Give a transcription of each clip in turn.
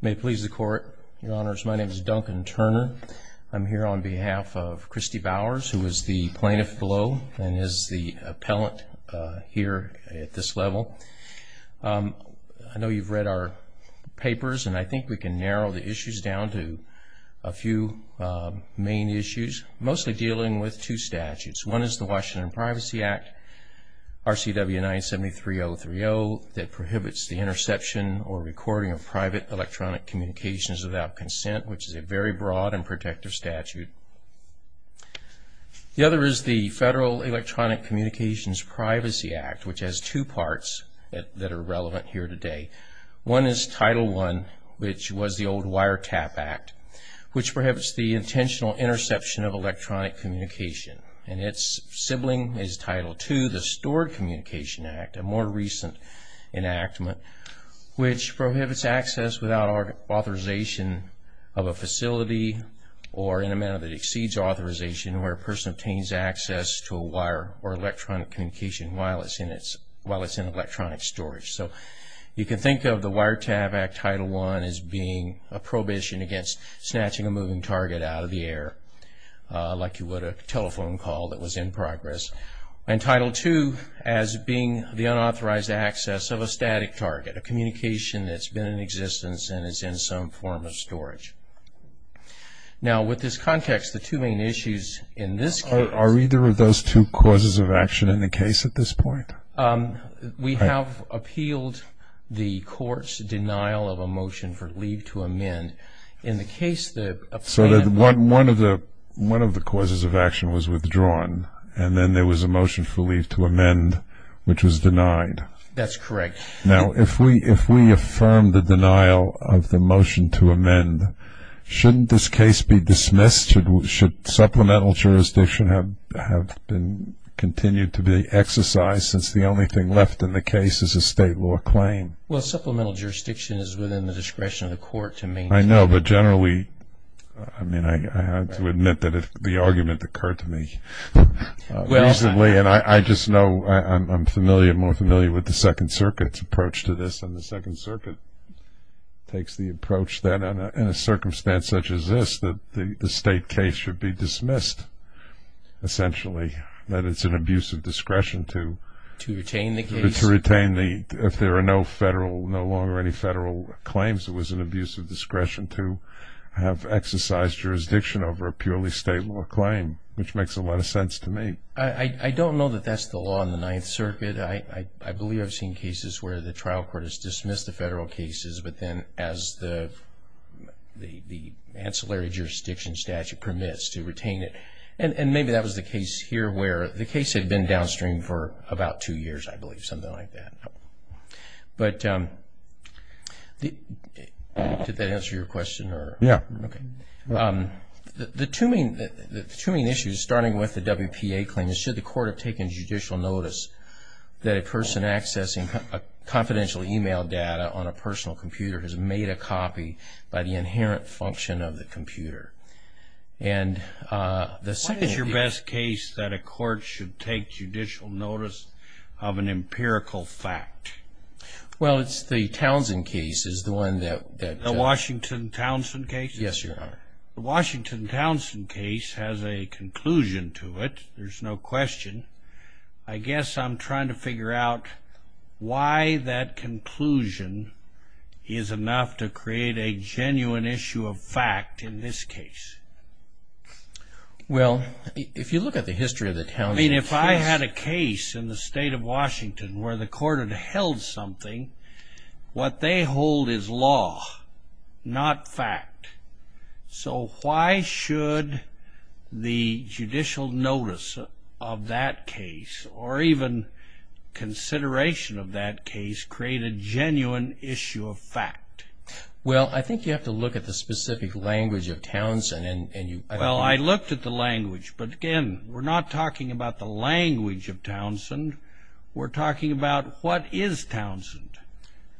May it please the court, your honors, my name is Duncan Turner. I'm here on behalf of Christy Bowers, who is the plaintiff below and is the appellant here at this level. I know you've read our papers and I think we can narrow the issues down to a few main issues, mostly dealing with two statutes. One is the Washington Privacy Act, RCW 973030, that prohibits the interception or recording of private electronic communications without consent, which is a very broad and protective statute. The other is the Federal Electronic Communications Privacy Act, which has two parts that are relevant here today. One is Title I, which was the old Wire Tap Act, which prohibits the intentional interception of electronic communication. And its sibling is Title II, the Stored Communication Act, a more recent enactment, which prohibits access without authorization of a facility or in a manner that exceeds authorization where a person obtains access to a wire or electronic communication while it's in electronic storage. So you can think of the Wire Tap Act, Title I, as being a prohibition against snatching a moving target out of the air, like you would a telephone call that was in progress. And Title II as being the unauthorized access of a static target, a communication that's been in existence and is in some form of storage. Now, with this context, the two main issues in this case... Are either of those two causes of action in the case at this point? We have appealed the court's denial of a motion for leave to amend. In the case... So one of the causes of action was withdrawn, and then there was a motion for leave to amend, which was denied. That's correct. Now, if we affirm the denial of the motion to amend, shouldn't this case be dismissed? Should supplemental jurisdiction have continued to be exercised since the only thing left in the case is a state law claim? Well, supplemental jurisdiction is within the discretion of the court to maintain it. I know, but generally, I mean, I have to admit that the argument occurred to me reasonably, and I just know I'm more familiar with the Second Circuit's approach to this, and the Second Circuit takes the approach that in a circumstance such as this, that the state case should be dismissed, essentially, that it's an abuse of discretion to... To retain the case? To retain the, if there are no federal, no longer any federal claims, it was an abuse of discretion to have exercised jurisdiction over a purely state law claim, which makes a lot of sense to me. I don't know that that's the law in the Ninth Circuit. I believe I've seen cases where the trial court has dismissed the federal cases, but then as the ancillary jurisdiction statute permits to retain it, and maybe that was the case here where the case had been downstream for about two years, I believe, something like that. But did that answer your question? Yeah. Okay. The two main issues, starting with the WPA claim, is should the court have taken judicial notice that a person accessing confidential e-mail data on a personal computer has made a copy by the inherent function of the computer? And the second... What is your best case that a court should take judicial notice of an empirical fact? Well, it's the Townsend case is the one that... The Washington-Townsend case? Yes, Your Honor. The Washington-Townsend case has a conclusion to it. There's no question. I guess I'm trying to figure out why that conclusion is enough to create a genuine issue of fact in this case. Well, if you look at the history of the Townsend case... So why should the judicial notice of that case, or even consideration of that case, create a genuine issue of fact? Well, I think you have to look at the specific language of Townsend, and you... Well, I looked at the language, but again, we're not talking about the language of Townsend. We're talking about what is Townsend.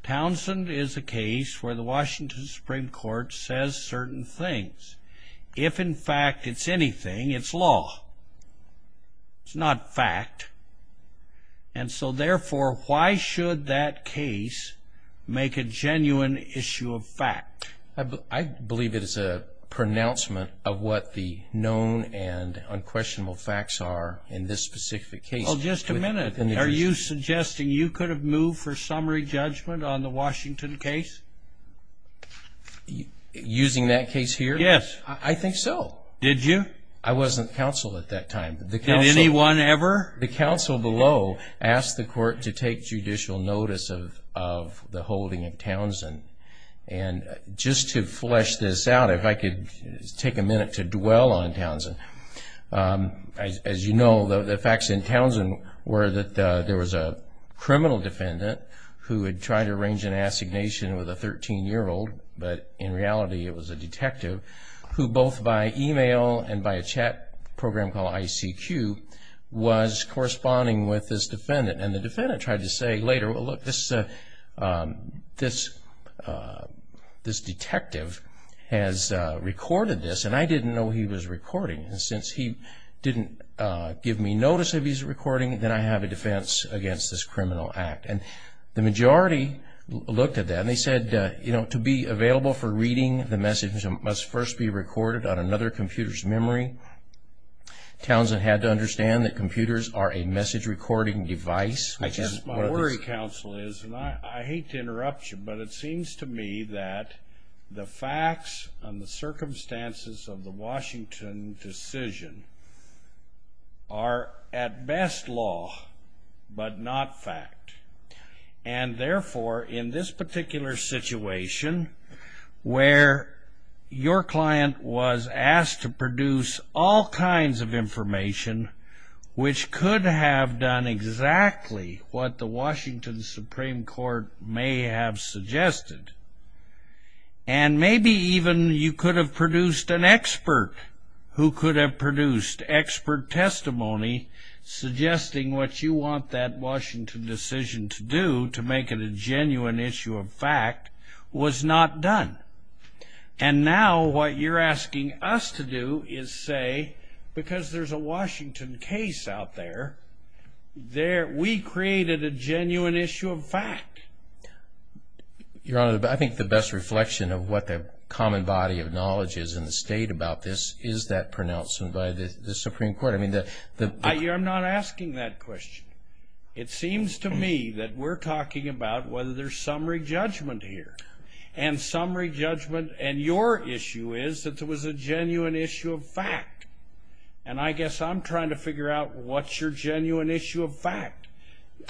Townsend is a case where the Washington Supreme Court says certain things. If, in fact, it's anything, it's law. It's not fact. And so, therefore, why should that case make a genuine issue of fact? I believe it is a pronouncement of what the known and unquestionable facts are in this specific case. Well, just a minute. Are you suggesting you could have moved for summary judgment on the Washington case? Using that case here? Yes. I think so. Did you? I wasn't counsel at that time. Did anyone ever? The counsel below asked the court to take judicial notice of the holding of Townsend. And just to flesh this out, if I could take a minute to dwell on Townsend. As you know, the facts in Townsend were that there was a criminal defendant who had tried to arrange an assignation with a 13-year-old, but in reality it was a detective who both by email and by a chat program called ICQ was corresponding with this defendant. And the defendant tried to say later, well, look, this detective has recorded this, and I didn't know he was recording. And since he didn't give me notice that he was recording, then I have a defense against this criminal act. And the majority looked at that and they said, you know, to be available for reading the message must first be recorded on another computer's memory. Townsend had to understand that computers are a message recording device. My worry, counsel, is, and I hate to interrupt you, but it seems to me that the facts and the circumstances of the Washington decision are at best law but not fact. And therefore, in this particular situation, where your client was asked to produce all kinds of information, which could have done exactly what the Washington Supreme Court may have suggested, and maybe even you could have produced an expert who could have produced expert testimony suggesting what you want that Washington decision to do, to make it a genuine issue of fact, was not done. And now what you're asking us to do is say, because there's a Washington case out there, we created a genuine issue of fact. Your Honor, I think the best reflection of what the common body of knowledge is in the state about this is that pronounced by the Supreme Court. I'm not asking that question. It seems to me that we're talking about whether there's summary judgment here. And summary judgment and your issue is that there was a genuine issue of fact. And I guess I'm trying to figure out what's your genuine issue of fact.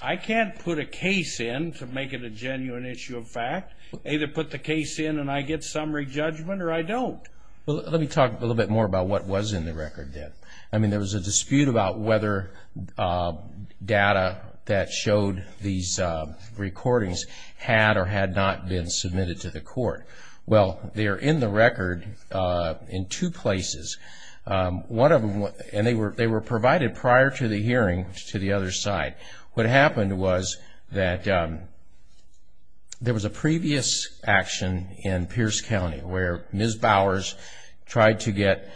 I can't put a case in to make it a genuine issue of fact. Either put the case in and I get summary judgment or I don't. Well, let me talk a little bit more about what was in the record then. I mean, there was a dispute about whether data that showed these recordings had or had not been submitted to the court. Well, they're in the record in two places. One of them, and they were provided prior to the hearing to the other side. What happened was that there was a previous action in Pierce County where Ms. Bowers tried to get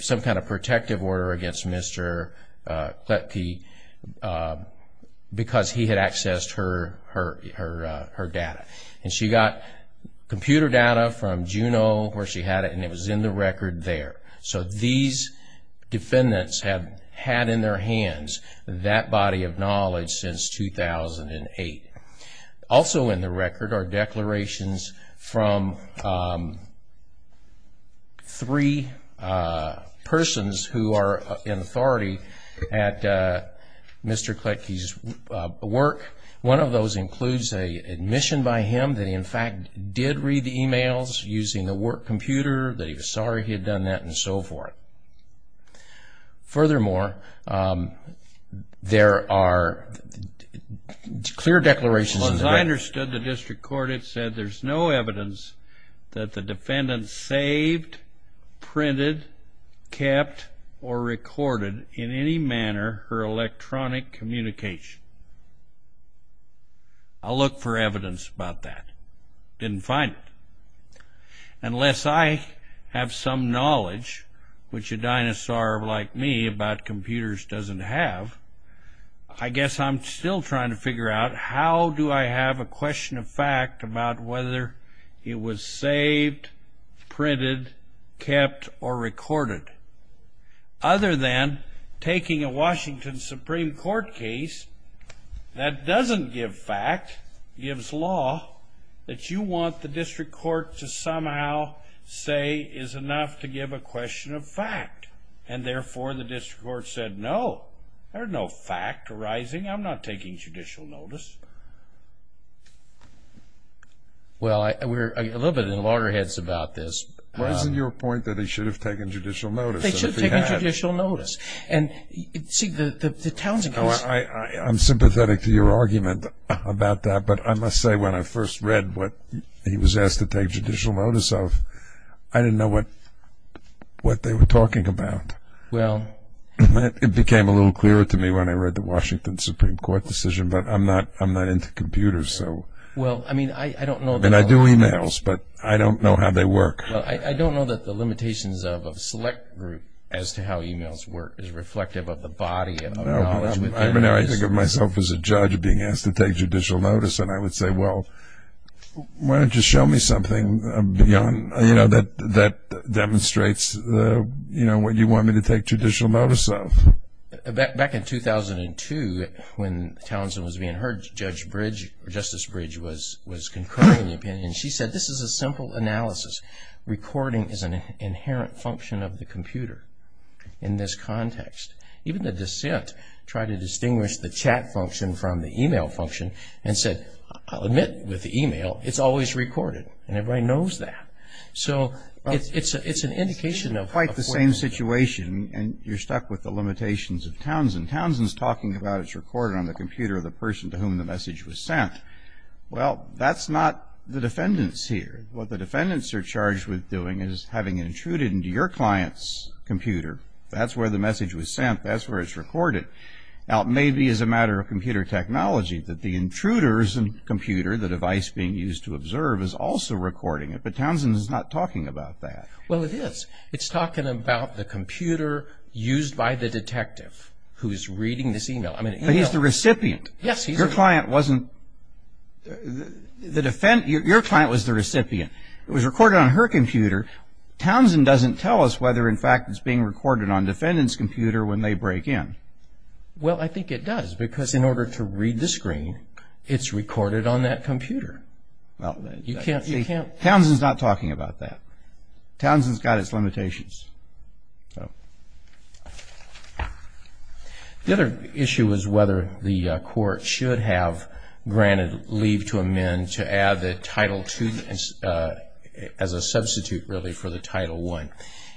some kind of protective order against Mr. Kletke because he had accessed her data. And she got computer data from Juneau where she had it, and it was in the record there. So these defendants have had in their hands that body of knowledge since 2008. Also in the record are declarations from three persons who are in authority at Mr. Kletke's work. One of those includes an admission by him that he, in fact, did read the emails using the work computer, that he was sorry he had done that, and so forth. Furthermore, there are clear declarations in the record. Well, as I understood the district court, it said there's no evidence that the defendant saved, printed, kept, or recorded in any manner her electronic communication. I'll look for evidence about that. Didn't find it. Unless I have some knowledge, which a dinosaur like me about computers doesn't have, I guess I'm still trying to figure out how do I have a question of fact about whether he was saved, printed, kept, or recorded. Other than taking a Washington Supreme Court case that doesn't give fact, gives law, that you want the district court to somehow say is enough to give a question of fact. And therefore, the district court said, no, there's no fact arising. I'm not taking judicial notice. Well, we're a little bit in loggerheads about this. Wasn't your point that he should have taken judicial notice? They should have taken judicial notice. And see, the Townsend case. I'm sympathetic to your argument about that, but I must say when I first read what he was asked to take judicial notice of, I didn't know what they were talking about. It became a little clearer to me when I read the Washington Supreme Court decision, but I'm not into computers. And I do e-mails, but I don't know how they work. I don't know that the limitations of a select group as to how e-mails work is reflective of the body of knowledge. I think of myself as a judge being asked to take judicial notice, and I would say, well, why don't you show me something that demonstrates what you want me to take judicial notice of? Back in 2002, when Townsend was being heard, Judge Bridge or Justice Bridge was concurring the opinion. She said, this is a simple analysis. Recording is an inherent function of the computer in this context. Even the dissent tried to distinguish the chat function from the e-mail function and said, I'll admit with the e-mail, it's always recorded, and everybody knows that. So it's an indication of what's going on. It's quite the same situation, and you're stuck with the limitations of Townsend. Townsend's talking about it's recorded on the computer of the person to whom the message was sent. Well, that's not the defendants here. What the defendants are charged with doing is having it intruded into your client's computer. That's where the message was sent. That's where it's recorded. Now, it may be as a matter of computer technology that the intruder's computer, the device being used to observe, is also recording it. But Townsend is not talking about that. Well, it is. It's talking about the computer used by the detective who's reading this e-mail. But he's the recipient. Yes, he is. Your client was the recipient. It was recorded on her computer. Townsend doesn't tell us whether, in fact, it's being recorded on the defendant's computer when they break in. Well, I think it does, because in order to read the screen, it's recorded on that computer. Well, Townsend's not talking about that. Townsend's got its limitations. The other issue was whether the court should have granted leave to amend to add the Title II as a substitute, really, for the Title I.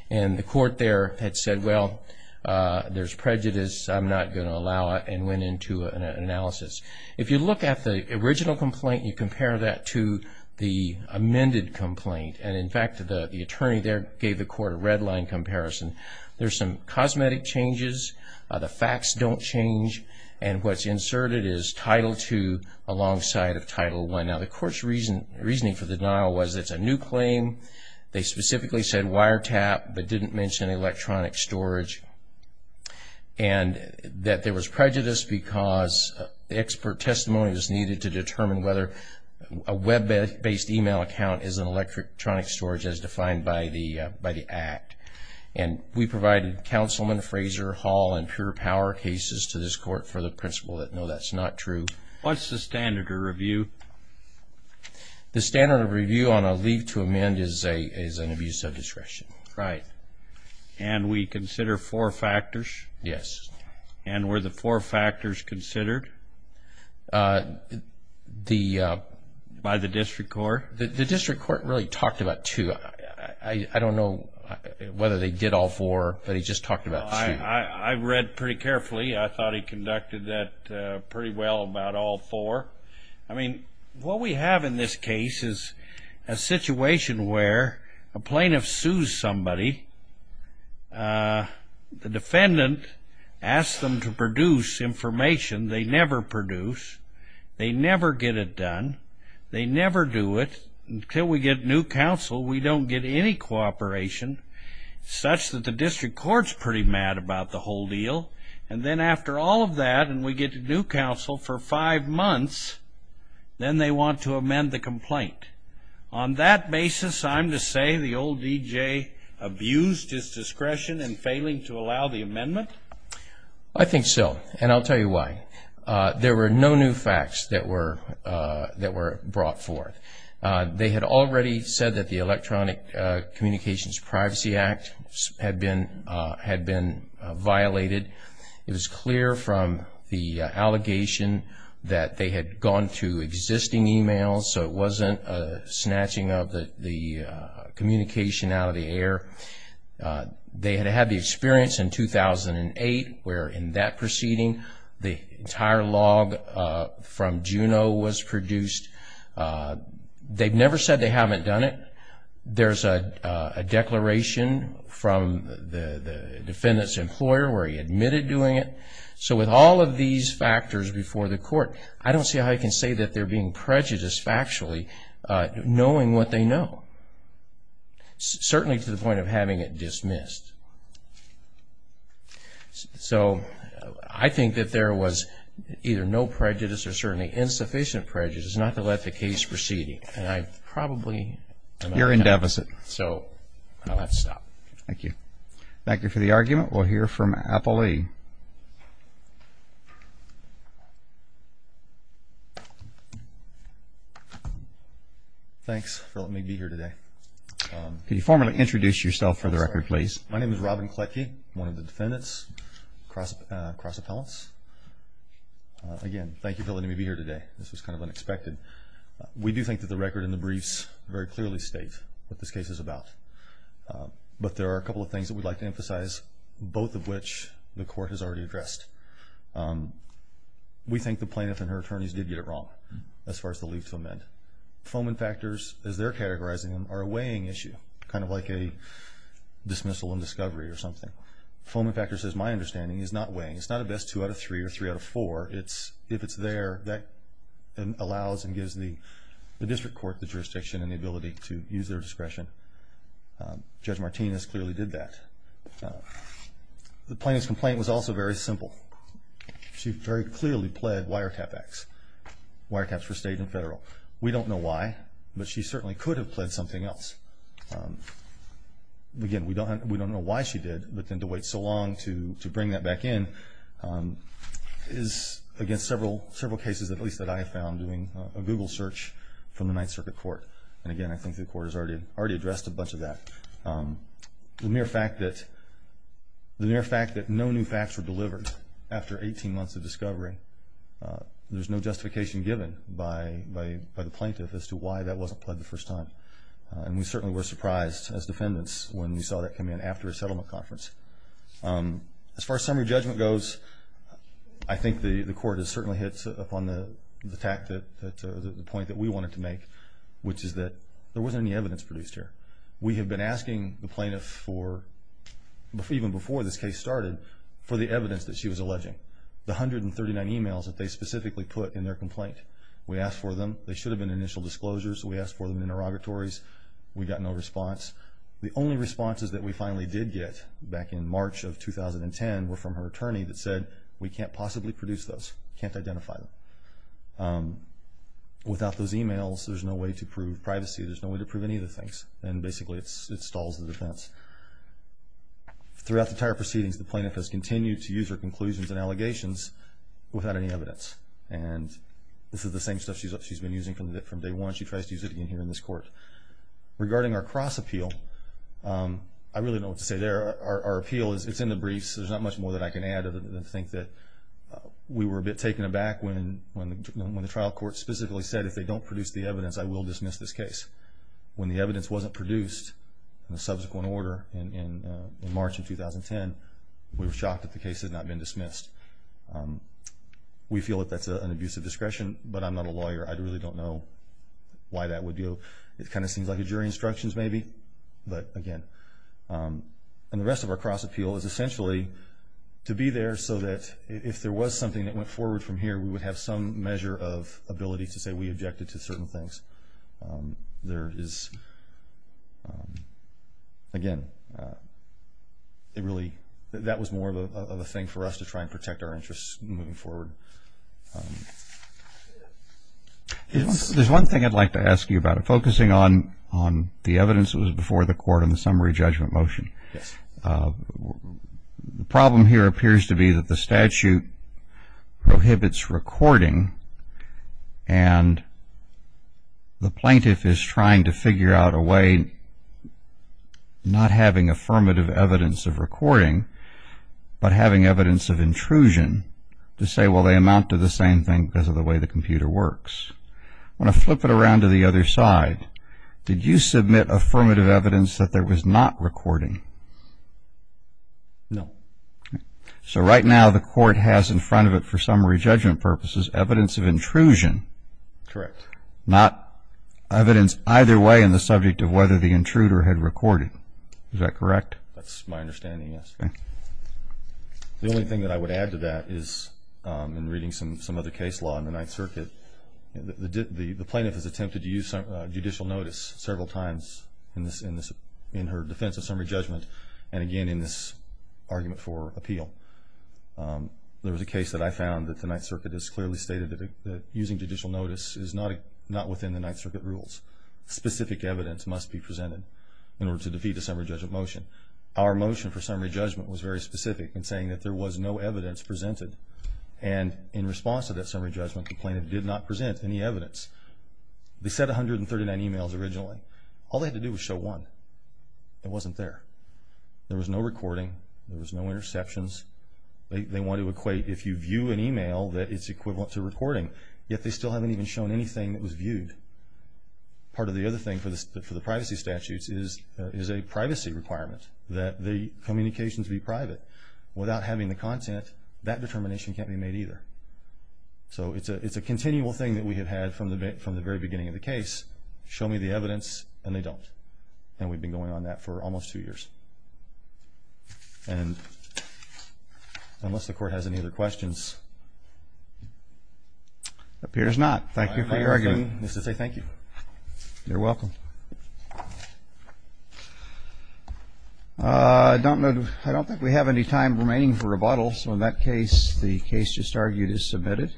And the court there had said, well, there's prejudice. I'm not going to allow it, and went into an analysis. If you look at the original complaint, you compare that to the amended complaint. And, in fact, the attorney there gave the court a red-line comparison. There's some cosmetic changes. The facts don't change. And what's inserted is Title II alongside of Title I. Now, the court's reasoning for the denial was it's a new claim. They specifically said wiretap, but didn't mention electronic storage, and that there was prejudice because expert testimony was needed to determine whether a web-based email account is an electronic storage, as defined by the Act. And we provided Councilman Fraser, Hall, and Pure Power cases to this court for the principle that, no, that's not true. What's the standard of review? The standard of review on a leave to amend is an abuse of discretion. Right. And we consider four factors? Yes. And were the four factors considered by the district court? The district court really talked about two. I don't know whether they did all four, but he just talked about two. I read pretty carefully. I thought he conducted that pretty well about all four. I mean, what we have in this case is a situation where a plaintiff sues somebody. The defendant asks them to produce information. They never produce. They never get it done. They never do it until we get new counsel. We don't get any cooperation, such that the district court's pretty mad about the whole deal. And then after all of that, and we get new counsel for five months, then they want to amend the complaint. On that basis, I'm to say the old D.J. abused his discretion in failing to allow the amendment? I think so, and I'll tell you why. There were no new facts that were brought forth. They had already said that the Electronic Communications Privacy Act had been violated. It was clear from the allegation that they had gone to existing e-mails, so it wasn't a snatching of the communication out of the air. They had had the experience in 2008, where in that proceeding, the entire log from Juneau was produced. They've never said they haven't done it. There's a declaration from the defendant's employer where he admitted doing it. So with all of these factors before the court, I don't see how you can say that they're being prejudiced factually, knowing what they know. Certainly to the point of having it dismissed. So I think that there was either no prejudice or certainly insufficient prejudice not to let the case proceed. And I probably am out of time. You're in deficit. So I'll have to stop. Thank you. Thank you for the argument. We'll hear from Apolli. Thanks for letting me be here today. Can you formally introduce yourself for the record, please? I'm sorry. My name is Robin Kletke. I'm one of the defendants, cross appellants. Again, thank you for letting me be here today. This was kind of unexpected. We do think that the record and the briefs very clearly state what this case is about. But there are a couple of things that we'd like to emphasize, both of which look to the court for clarification. We think the plaintiff and her attorneys did get it wrong as far as the leave to amend. Foment factors, as they're categorizing them, are a weighing issue, kind of like a dismissal and discovery or something. Foment factors, as my understanding, is not weighing. It's not a best two out of three or three out of four. If it's there, that allows and gives the district court the jurisdiction and the ability to use their discretion. Judge Martinez clearly did that. The plaintiff's complaint was also very simple. She very clearly pled wiretap acts, wiretaps for state and federal. We don't know why, but she certainly could have pled something else. Again, we don't know why she did, but then to wait so long to bring that back in is against several cases, at least that I have found, doing a Google search from the Ninth Circuit Court. And again, I think the court has already addressed a bunch of that. The mere fact that no new facts were delivered after 18 months of discovery, there's no justification given by the plaintiff as to why that wasn't pled the first time. And we certainly were surprised as defendants when we saw that come in after a settlement conference. As far as summary judgment goes, I think the court has certainly hit upon the point that we wanted to make, which is that there wasn't any evidence produced here. We have been asking the plaintiff for, even before this case started, for the evidence that she was alleging, the 139 emails that they specifically put in their complaint. We asked for them. They should have been initial disclosures. We asked for them in interrogatories. We got no response. The only responses that we finally did get back in March of 2010 were from her attorney that said, we can't possibly produce those, can't identify them. Without those emails, there's no way to prove privacy. There's no way to prove any of the things. And basically, it stalls the defense. Throughout the entire proceedings, the plaintiff has continued to use her conclusions and allegations without any evidence. And this is the same stuff she's been using from day one. She tries to use it again here in this court. Regarding our cross-appeal, I really don't know what to say there. Our appeal is in the briefs. There's not much more that I can add other than to think that we were a bit taken aback when the trial court specifically said, if they don't produce the evidence, I will dismiss this case. When the evidence wasn't produced in a subsequent order in March of 2010, we were shocked that the case had not been dismissed. We feel that that's an abuse of discretion, but I'm not a lawyer. I really don't know why that would be. It kind of seems like a jury instructions maybe, but again. And the rest of our cross-appeal is essentially to be there so that if there was something that went forward from here, we would have some measure of ability to say we objected to certain things. Again, that was more of a thing for us to try and protect our interests moving forward. There's one thing I'd like to ask you about. Focusing on the evidence that was before the court in the summary judgment motion, the problem here appears to be that the statute prohibits recording and the plaintiff is trying to figure out a way, not having affirmative evidence of recording, but having evidence of intrusion to say, well, they amount to the same thing because of the way the computer works. I want to flip it around to the other side. Did you submit affirmative evidence that there was not recording? No. So right now the court has in front of it for summary judgment purposes evidence of intrusion. Correct. Not evidence either way in the subject of whether the intruder had recorded. Is that correct? That's my understanding, yes. The only thing that I would add to that is in reading some other case law in the Ninth Circuit, the plaintiff has attempted to use judicial notice several times in her defense of summary judgment and again in this argument for appeal. There was a case that I found that the Ninth Circuit has clearly stated that using judicial notice is not within the Ninth Circuit rules. Specific evidence must be presented in order to defeat a summary judgment motion. Our motion for summary judgment was very specific in saying that there was no evidence presented and in response to that summary judgment, the plaintiff did not present any evidence. They said 139 emails originally. All they had to do was show one. It wasn't there. There was no recording. There was no interceptions. They want to equate if you view an email that it's equivalent to recording, yet they still haven't even shown anything that was viewed. Part of the other thing for the privacy statutes is there is a privacy requirement that the communications be private. Without having the content, that determination can't be made either. So it's a continual thing that we have had from the very beginning of the case, show me the evidence, and they don't. And we've been going on that for almost two years. And unless the Court has any other questions. Appears not. Thank you for your argument. I just want to say thank you. You're welcome. I don't think we have any time remaining for rebuttal. So in that case, the case just argued is submitted.